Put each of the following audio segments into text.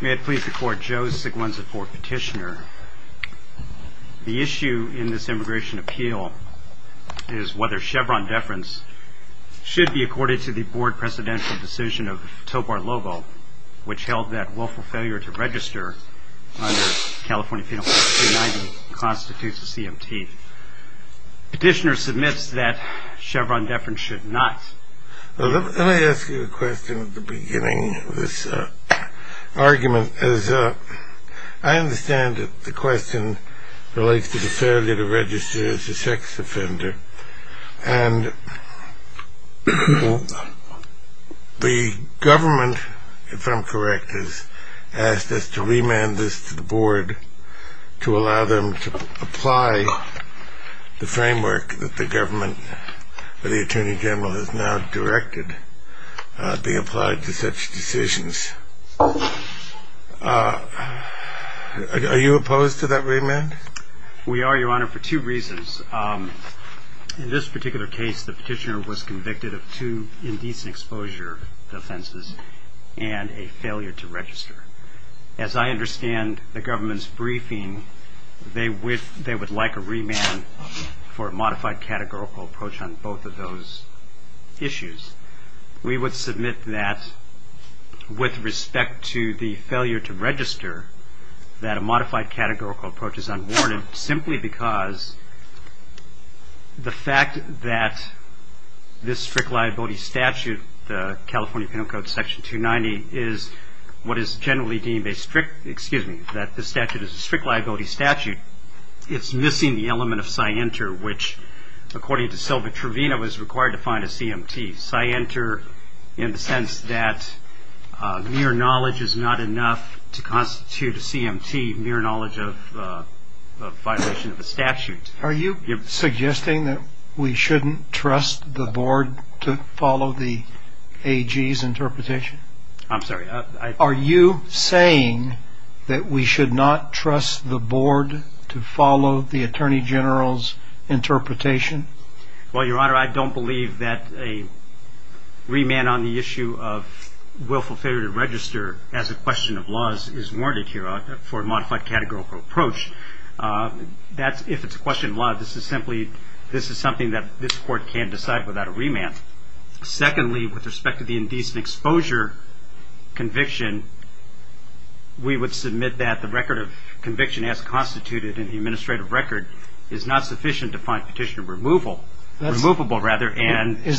May it please the court, Joe Siglienza for petitioner. The issue in this immigration appeal is whether Chevron deference should be accorded to the board presidential decision of Tobar Lobo, which held that willful failure to register under California Penal Code 390 constitutes a CMT. Petitioner submits that Chevron deference should not. Let me ask you a question at the beginning of this argument. As I understand it, the question relates to the failure to register as a sex offender. And the government, if I'm correct, has asked us to remand this to the board to allow them to apply the framework that the government or the attorney general has now directed being applied to such decisions. Are you opposed to that remand? We are, Your Honor, for two reasons. In this particular case, the petitioner was convicted of two indecent exposure offenses and a failure to register. As I understand the government's briefing, they would like a remand for a modified categorical approach on both of those issues. We would submit that with respect to the failure to register that a modified categorical approach is unwarranted simply because the fact that this strict liability statute, the California Penal Code Section 290, is what is generally deemed a strict, excuse me, that this statute is a strict liability statute, it's missing the element of scienter, which, according to Sylva Trevino, is required to find a CMT. Scienter in the sense that mere knowledge is not enough to constitute a CMT, mere knowledge of violation of a statute. Are you suggesting that we shouldn't trust the board to follow the AG's interpretation? I'm sorry. Are you saying that we should not trust the board to follow the attorney general's interpretation? Well, Your Honor, I don't believe that a remand on the issue of willful failure to register as a question of laws is warranted here for a modified categorical approach. If it's a question of law, this is something that this court can't decide without a remand. Secondly, with respect to the indecent exposure conviction, we would submit that the record of conviction as constituted in the administrative record is not sufficient to find petitioner removable. Is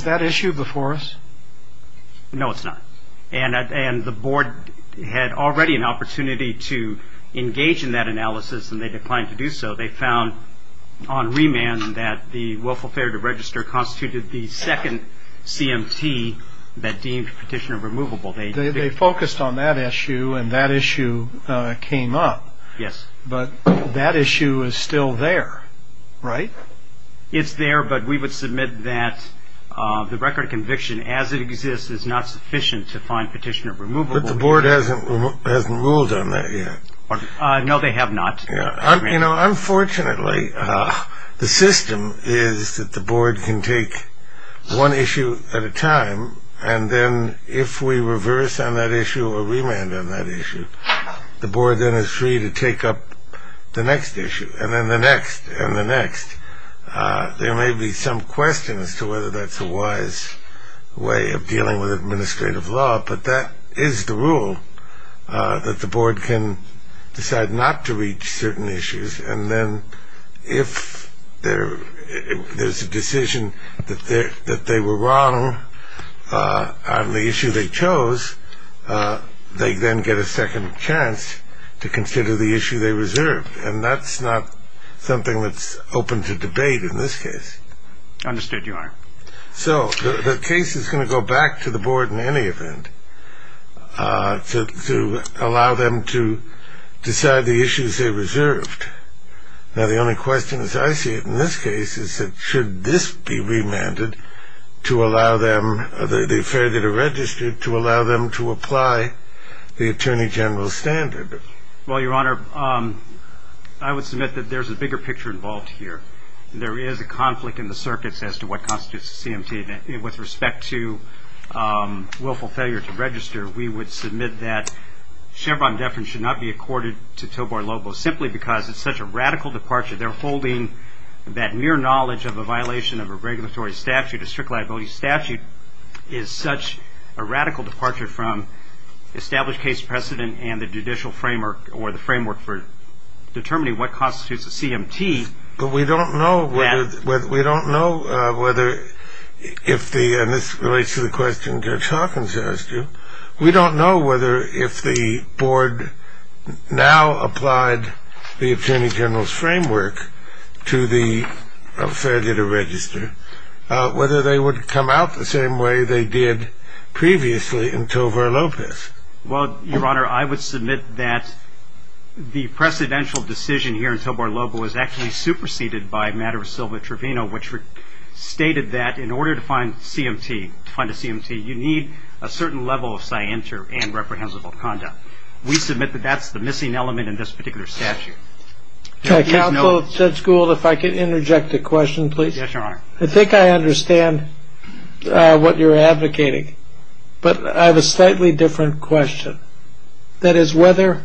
that issue before us? No, it's not. And the board had already an opportunity to engage in that analysis, and they declined to do so. They found on remand that the willful failure to register constituted the second CMT that deemed petitioner removable. They focused on that issue, and that issue came up. Yes. But that issue is still there, right? It's there, but we would submit that the record of conviction as it exists is not sufficient to find petitioner removable. But the board hasn't ruled on that yet. No, they have not. Unfortunately, the system is that the board can take one issue at a time, and then if we reverse on that issue or remand on that issue, the board then is free to take up the next issue, and then the next, and the next. There may be some question as to whether that's a wise way of dealing with administrative law, but that is the rule, that the board can decide not to reach certain issues, and then if there's a decision that they were wrong on the issue they chose, they then get a second chance to consider the issue they reserved, and that's not something that's open to debate in this case. Understood, Your Honor. So the case is going to go back to the board in any event to allow them to decide the issues they reserved. Now, the only question as I see it in this case is that should this be remanded to allow them, the affair that are registered, to allow them to apply the Attorney General's standard? Well, Your Honor, I would submit that there's a bigger picture involved here. There is a conflict in the circuits as to what constitutes a CMT, and with respect to willful failure to register, we would submit that Chevron deference should not be accorded to Tobar-Lobo simply because it's such a radical departure. They're holding that mere knowledge of a violation of a regulatory statute, a strict liability statute, is such a radical departure from established case precedent and the judicial framework or the framework for determining what constitutes a CMT. But we don't know whether, and this relates to the question Judge Hawkins asked you, we don't know whether if the board now applied the Attorney General's framework to the affair to register, whether they would come out the same way they did previously in Tobar-Lobo. Well, Your Honor, I would submit that the precedential decision here in Tobar-Lobo is actually superseded by a matter of Silva-Trevino, which stated that in order to find a CMT, you need a certain level of scienter and reprehensible conduct. We submit that that's the missing element in this particular statute. Counsel, Judge Gould, if I can interject a question, please. Yes, Your Honor. I think I understand what you're advocating, but I have a slightly different question. That is whether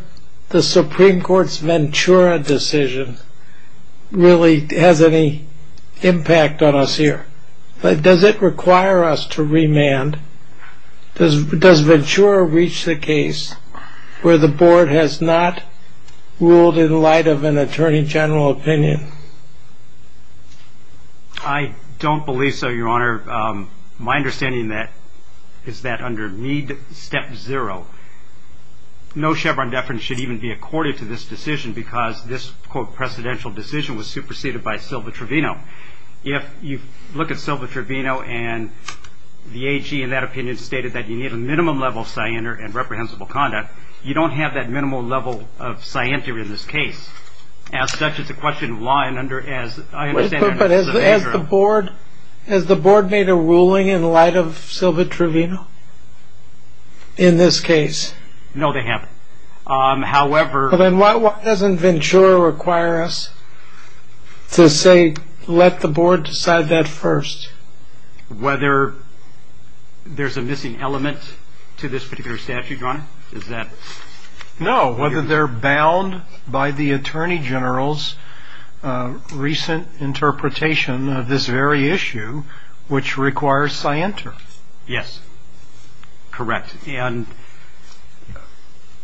the Supreme Court's Ventura decision really has any impact on us here. Does it require us to remand? Does Ventura reach the case where the board has not ruled in light of an Attorney General opinion? I don't believe so, Your Honor. My understanding is that under Mead Step 0, no Chevron deference should even be accorded to this decision because this, quote, precedential decision was superseded by Silva-Trevino. If you look at Silva-Trevino and the AG in that opinion stated that you need a minimum level of scienter and reprehensible conduct, you don't have that minimal level of scienter in this case. As such, it's a question of law and order. But has the board made a ruling in light of Silva-Trevino in this case? No, they haven't. Then why doesn't Ventura require us to say let the board decide that first? Whether there's a missing element to this particular statute, Your Honor? No, whether they're bound by the Attorney General's recent interpretation of this very issue, which requires scienter. Yes, correct. And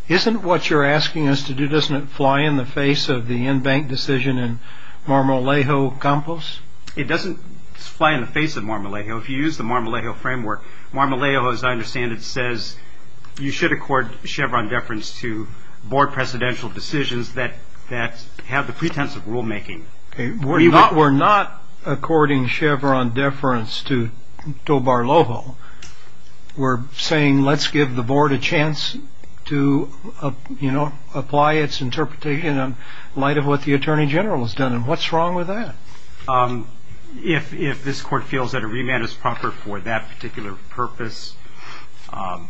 isn't what you're asking us to do, doesn't it fly in the face of the in-bank decision in Marmolejo-Campos? It doesn't fly in the face of Marmolejo. If you use the Marmolejo framework, Marmolejo, as I understand it, says you should accord Chevron deference to board presidential decisions that have the pretense of rulemaking. We're not according Chevron deference to Dobar-Lovo. We're saying let's give the board a chance to, you know, apply its interpretation in light of what the Attorney General has done. And what's wrong with that? If this court feels that a remand is proper for that particular purpose, I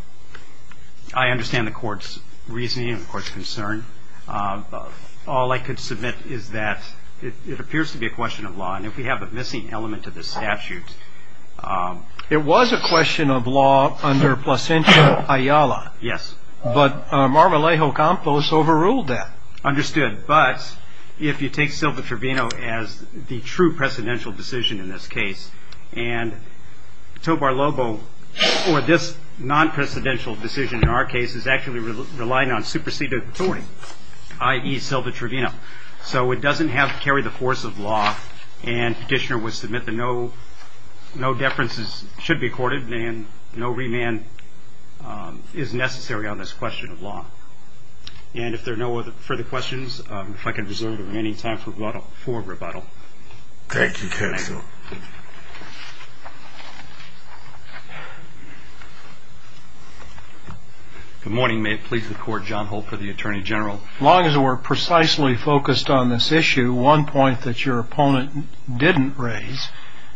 understand the court's reasoning and the court's concern. All I could submit is that it appears to be a question of law, and if we have a missing element to this statute. It was a question of law under Placencia-Ayala. Yes. But Marmolejo-Campos overruled that. Understood. But if you take Silva-Trevino as the true presidential decision in this case, and Dobar-Lovo or this non-presidential decision in our case is actually relying on superseded authority, i.e., Silva-Trevino. So it doesn't have to carry the force of law, and Petitioner would submit that no deference should be accorded and no remand is necessary on this question of law. And if there are no further questions, if I can reserve the remaining time for rebuttal. Thank you, counsel. Good morning. May it please the Court. John Holt for the Attorney General. As long as we're precisely focused on this issue, one point that your opponent didn't raise,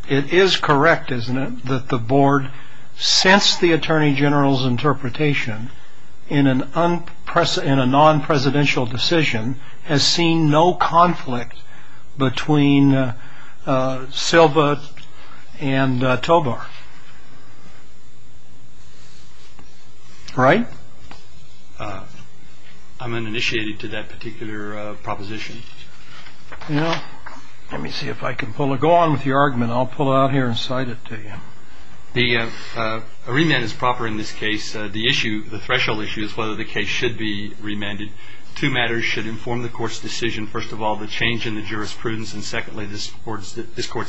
it is correct, isn't it, that the Board, since the Attorney General's interpretation in a non-presidential decision, has seen no conflict between Silva and Tobar. Right? I'm uninitiated to that particular proposition. Well, let me see if I can pull it. Go on with your argument. I'll pull it out here and cite it to you. A remand is proper in this case. The issue, the threshold issue, is whether the case should be remanded. Two matters should inform the Court's decision. First of all, the change in the jurisprudence, and secondly, this Court's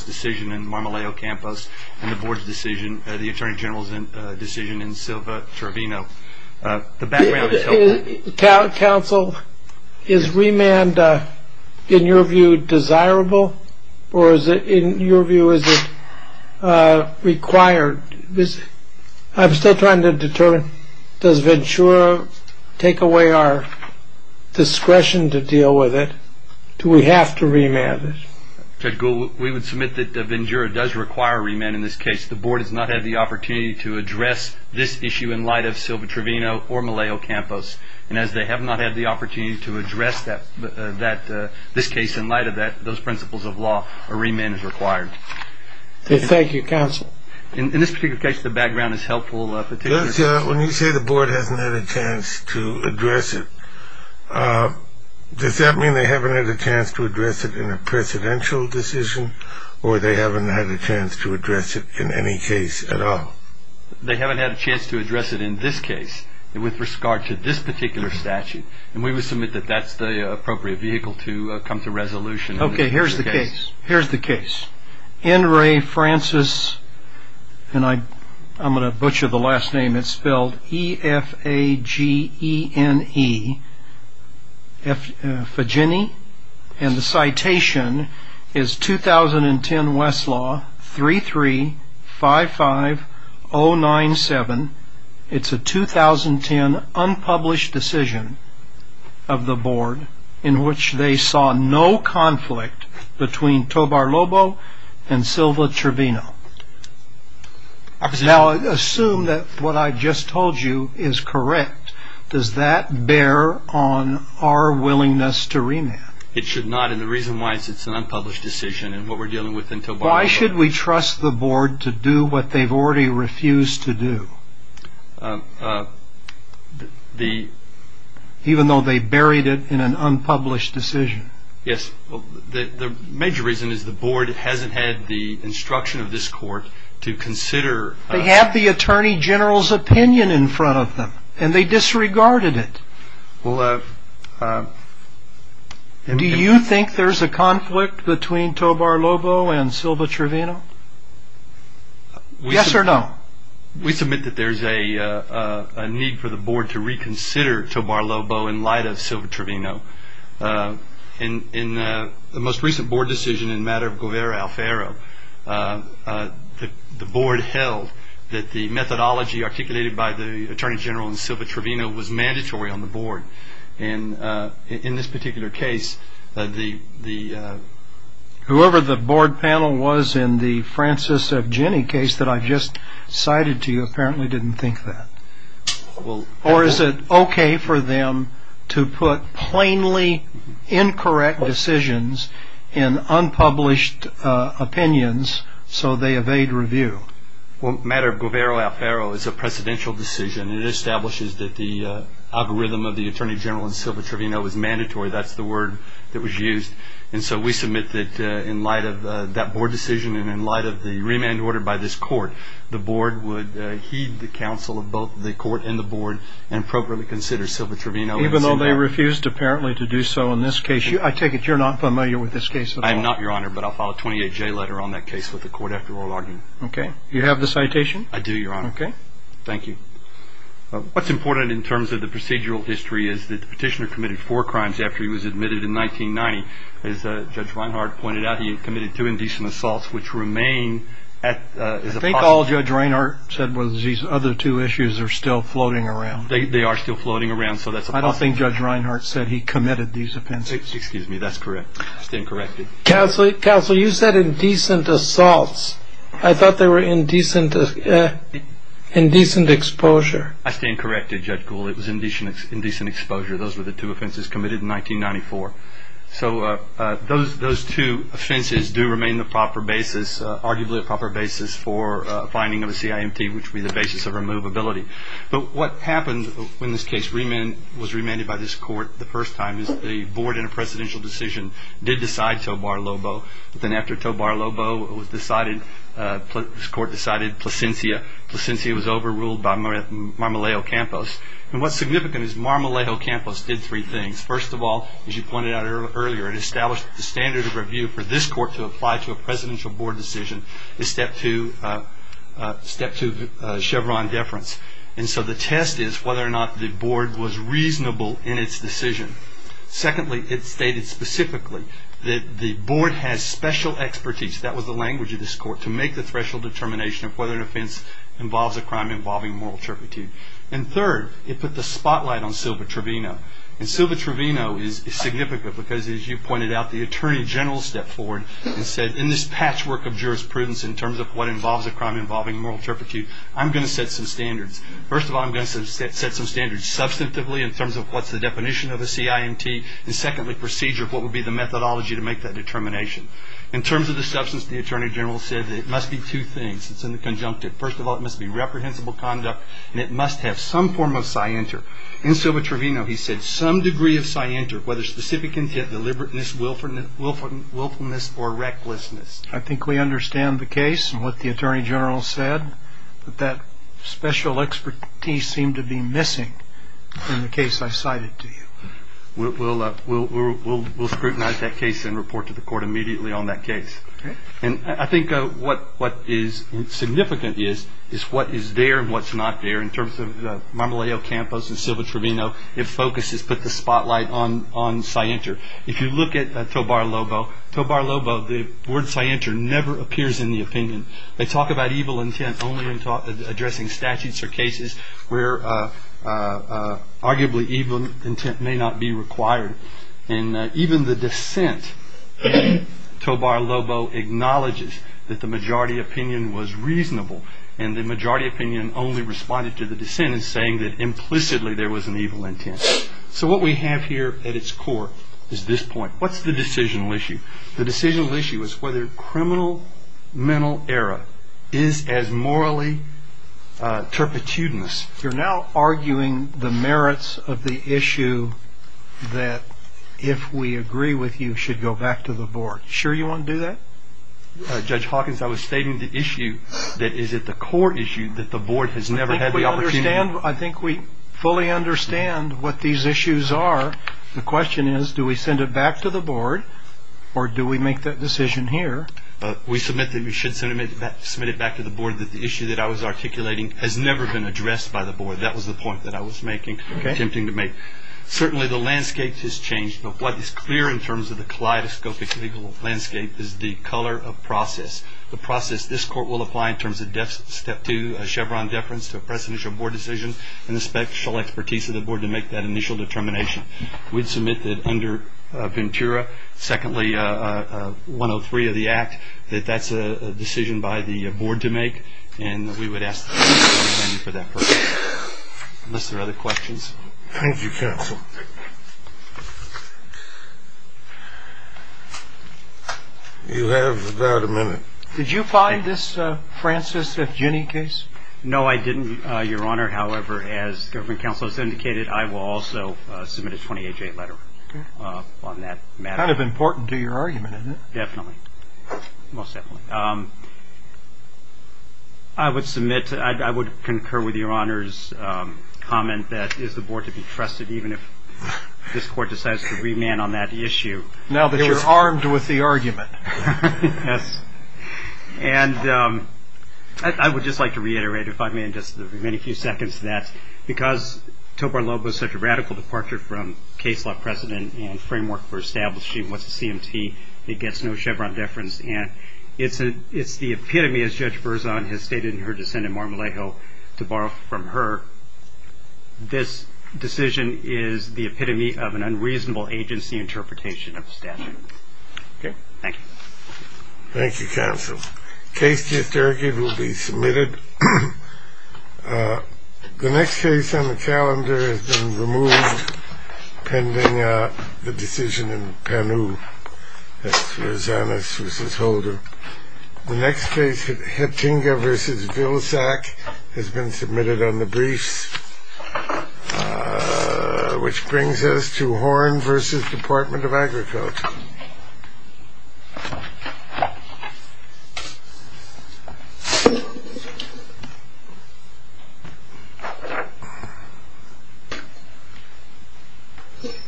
decision in Marmoleo Campos and the Board's decision, the Attorney General's decision in Silva-Trevino. Counsel, is remand, in your view, desirable? Or in your view, is it required? I'm still trying to determine, does Ventura take away our discretion to deal with it? Do we have to remand it? Judge Gould, we would submit that Ventura does require remand in this case. The Board has not had the opportunity to address this issue in light of Silva-Trevino or Marmoleo Campos. And as they have not had the opportunity to address this case in light of that, those principles of law, a remand is required. Thank you, Counsel. In this particular case, the background is helpful. When you say the Board hasn't had a chance to address it, does that mean they haven't had a chance to address it in a presidential decision, or they haven't had a chance to address it in any case at all? They haven't had a chance to address it in this case with regard to this particular statute. And we would submit that that's the appropriate vehicle to come to resolution. Okay, here's the case. Here's the case. N. Ray Francis, and I'm going to butcher the last name, it's spelled E-F-A-G-E-N-E, and the citation is 2010 Westlaw 33-55-097. It's a 2010 unpublished decision of the Board in which they saw no conflict between Tobar-Lobo and Silva-Trevino. Now, assume that what I just told you is correct. Does that bear on our willingness to remand? It should not, and the reason why is it's an unpublished decision, and what we're dealing with in Tobar-Lobo. Why should we trust the Board to do what they've already refused to do, even though they buried it in an unpublished decision? Yes, the major reason is the Board hasn't had the instruction of this court to consider. They have the Attorney General's opinion in front of them, and they disregarded it. Do you think there's a conflict between Tobar-Lobo and Silva-Trevino? Yes or no? We submit that there's a need for the Board to reconsider Tobar-Lobo in light of Silva-Trevino. In the most recent Board decision in matter of Guevara-Alfaro, the Board held that the methodology articulated by the Attorney General and Silva-Trevino was mandatory on the Board, and in this particular case, the... Whoever the Board panel was in the Francis of Guinea case that I just cited to you apparently didn't think that. Or is it okay for them to put plainly incorrect decisions in unpublished opinions so they evade review? Well, in matter of Guevara-Alfaro, it's a presidential decision. It establishes that the algorithm of the Attorney General and Silva-Trevino was mandatory. That's the word that was used, and so we submit that in light of that Board decision and in light of the remand order by this court, the Board would heed the counsel of both the court and the Board and appropriately consider Silva-Trevino. Even though they refused apparently to do so in this case? I take it you're not familiar with this case at all? I'm not, Your Honor, but I'll file a 28-J letter on that case with the court after oral argument. Okay. You have the citation? I do, Your Honor. Okay. Thank you. What's important in terms of the procedural history is that the petitioner committed four crimes after he was admitted in 1990. As Judge Reinhard pointed out, he committed two indecent assaults, which remain as a possibility. I think all Judge Reinhard said was these other two issues are still floating around. They are still floating around, so that's a possibility. I don't think Judge Reinhard said he committed these offenses. Excuse me. That's correct. I stand corrected. Counsel, you said indecent assaults. I thought they were indecent exposure. I stand corrected, Judge Gould. It was indecent exposure. Those were the two offenses committed in 1994. So those two offenses do remain the proper basis, arguably a proper basis for a finding of a CIMT, which would be the basis of removability. But what happened when this case was remanded by this court the first time is the board, in a presidential decision, did decide Tobar-Lobo. But then after Tobar-Lobo was decided, this court decided Plascencia. Plascencia was overruled by Marmolejo Campos. And what's significant is Marmolejo Campos did three things. First of all, as you pointed out earlier, it established the standard of review for this court to apply to a presidential board decision, the step two Chevron deference. And so the test is whether or not the board was reasonable in its decision. Secondly, it stated specifically that the board has special expertise, that was the language of this court, to make the threshold determination of whether an offense involves a crime involving moral turpitude. And third, it put the spotlight on Silva-Trevino. And Silva-Trevino is significant because, as you pointed out, the attorney general stepped forward and said, in this patchwork of jurisprudence in terms of what involves a crime involving moral turpitude, I'm going to set some standards. First of all, I'm going to set some standards substantively in terms of what's the definition of a CIMT, and secondly, procedure of what would be the methodology to make that determination. In terms of the substance, the attorney general said that it must be two things. It's in the conjunctive. First of all, it must be reprehensible conduct, and it must have some form of scienter. In Silva-Trevino, he said, some degree of scienter, whether specific intent, deliberateness, willfulness, or recklessness. I think we understand the case and what the attorney general said, but that special expertise seemed to be missing in the case I cited to you. We'll scrutinize that case and report to the court immediately on that case. Okay. And I think what is significant is what is there and what's not there in terms of Marmolejo-Campos and Silva-Trevino. It focuses, put the spotlight on scienter. If you look at Tobar-Lobo, Tobar-Lobo, the word scienter never appears in the opinion. They talk about evil intent only in addressing statutes or cases where arguably evil intent may not be required. And even the dissent, Tobar-Lobo acknowledges that the majority opinion was reasonable, and the majority opinion only responded to the dissent in saying that implicitly there was an evil intent. So what we have here at its core is this point. What's the decisional issue? The decisional issue is whether criminal mental error is as morally turpitudinous. You're now arguing the merits of the issue that if we agree with you should go back to the board. Sure you want to do that? Judge Hawkins, I was stating the issue that is at the core issue that the board has never had the opportunity. I think we fully understand what these issues are. The question is do we send it back to the board or do we make that decision here? We submit that we should submit it back to the board that the issue that I was articulating has never been addressed by the board. That was the point that I was making, attempting to make. Certainly the landscape has changed, but what is clear in terms of the kaleidoscopic legal landscape is the color of process, the process this court will apply in terms of step two, a Chevron deference to a presidential board decision, and the special expertise of the board to make that initial determination. We'd submit that under Ventura, secondly, 103 of the Act, that that's a decision by the board to make, and we would ask the board to stand for that first, unless there are other questions. Thank you, counsel. You have about a minute. Did you find this Francis F. Ginney case? No, I didn't, Your Honor. However, as government counsel has indicated, I will also submit a 28-J letter on that matter. Kind of important to your argument, isn't it? Definitely, most definitely. I would submit, I would concur with Your Honor's comment that it is the board to be trusted, even if this court decides to remand on that issue. Now that you're armed with the argument. Yes. And I would just like to reiterate, if I may, in just the remaining few seconds, that because Tobar-Lobo is such a radical departure from case law precedent and framework for establishing what's a CMT, it gets no Chevron deference, and it's the epitome, as Judge Berzon has stated in her dissent in Mar-a-Lago, to borrow from her, this decision is the epitome of an unreasonable agency interpretation of statute. Okay. Thank you. Thank you, counsel. Case just argued will be submitted. The next case on the calendar has been removed pending the decision in Panu. That's Rosanus v. Holder. The next case, Hettinga v. Vilsack, has been submitted on the briefs, which brings us to Horn v. Department of Agriculture.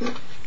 Thank you.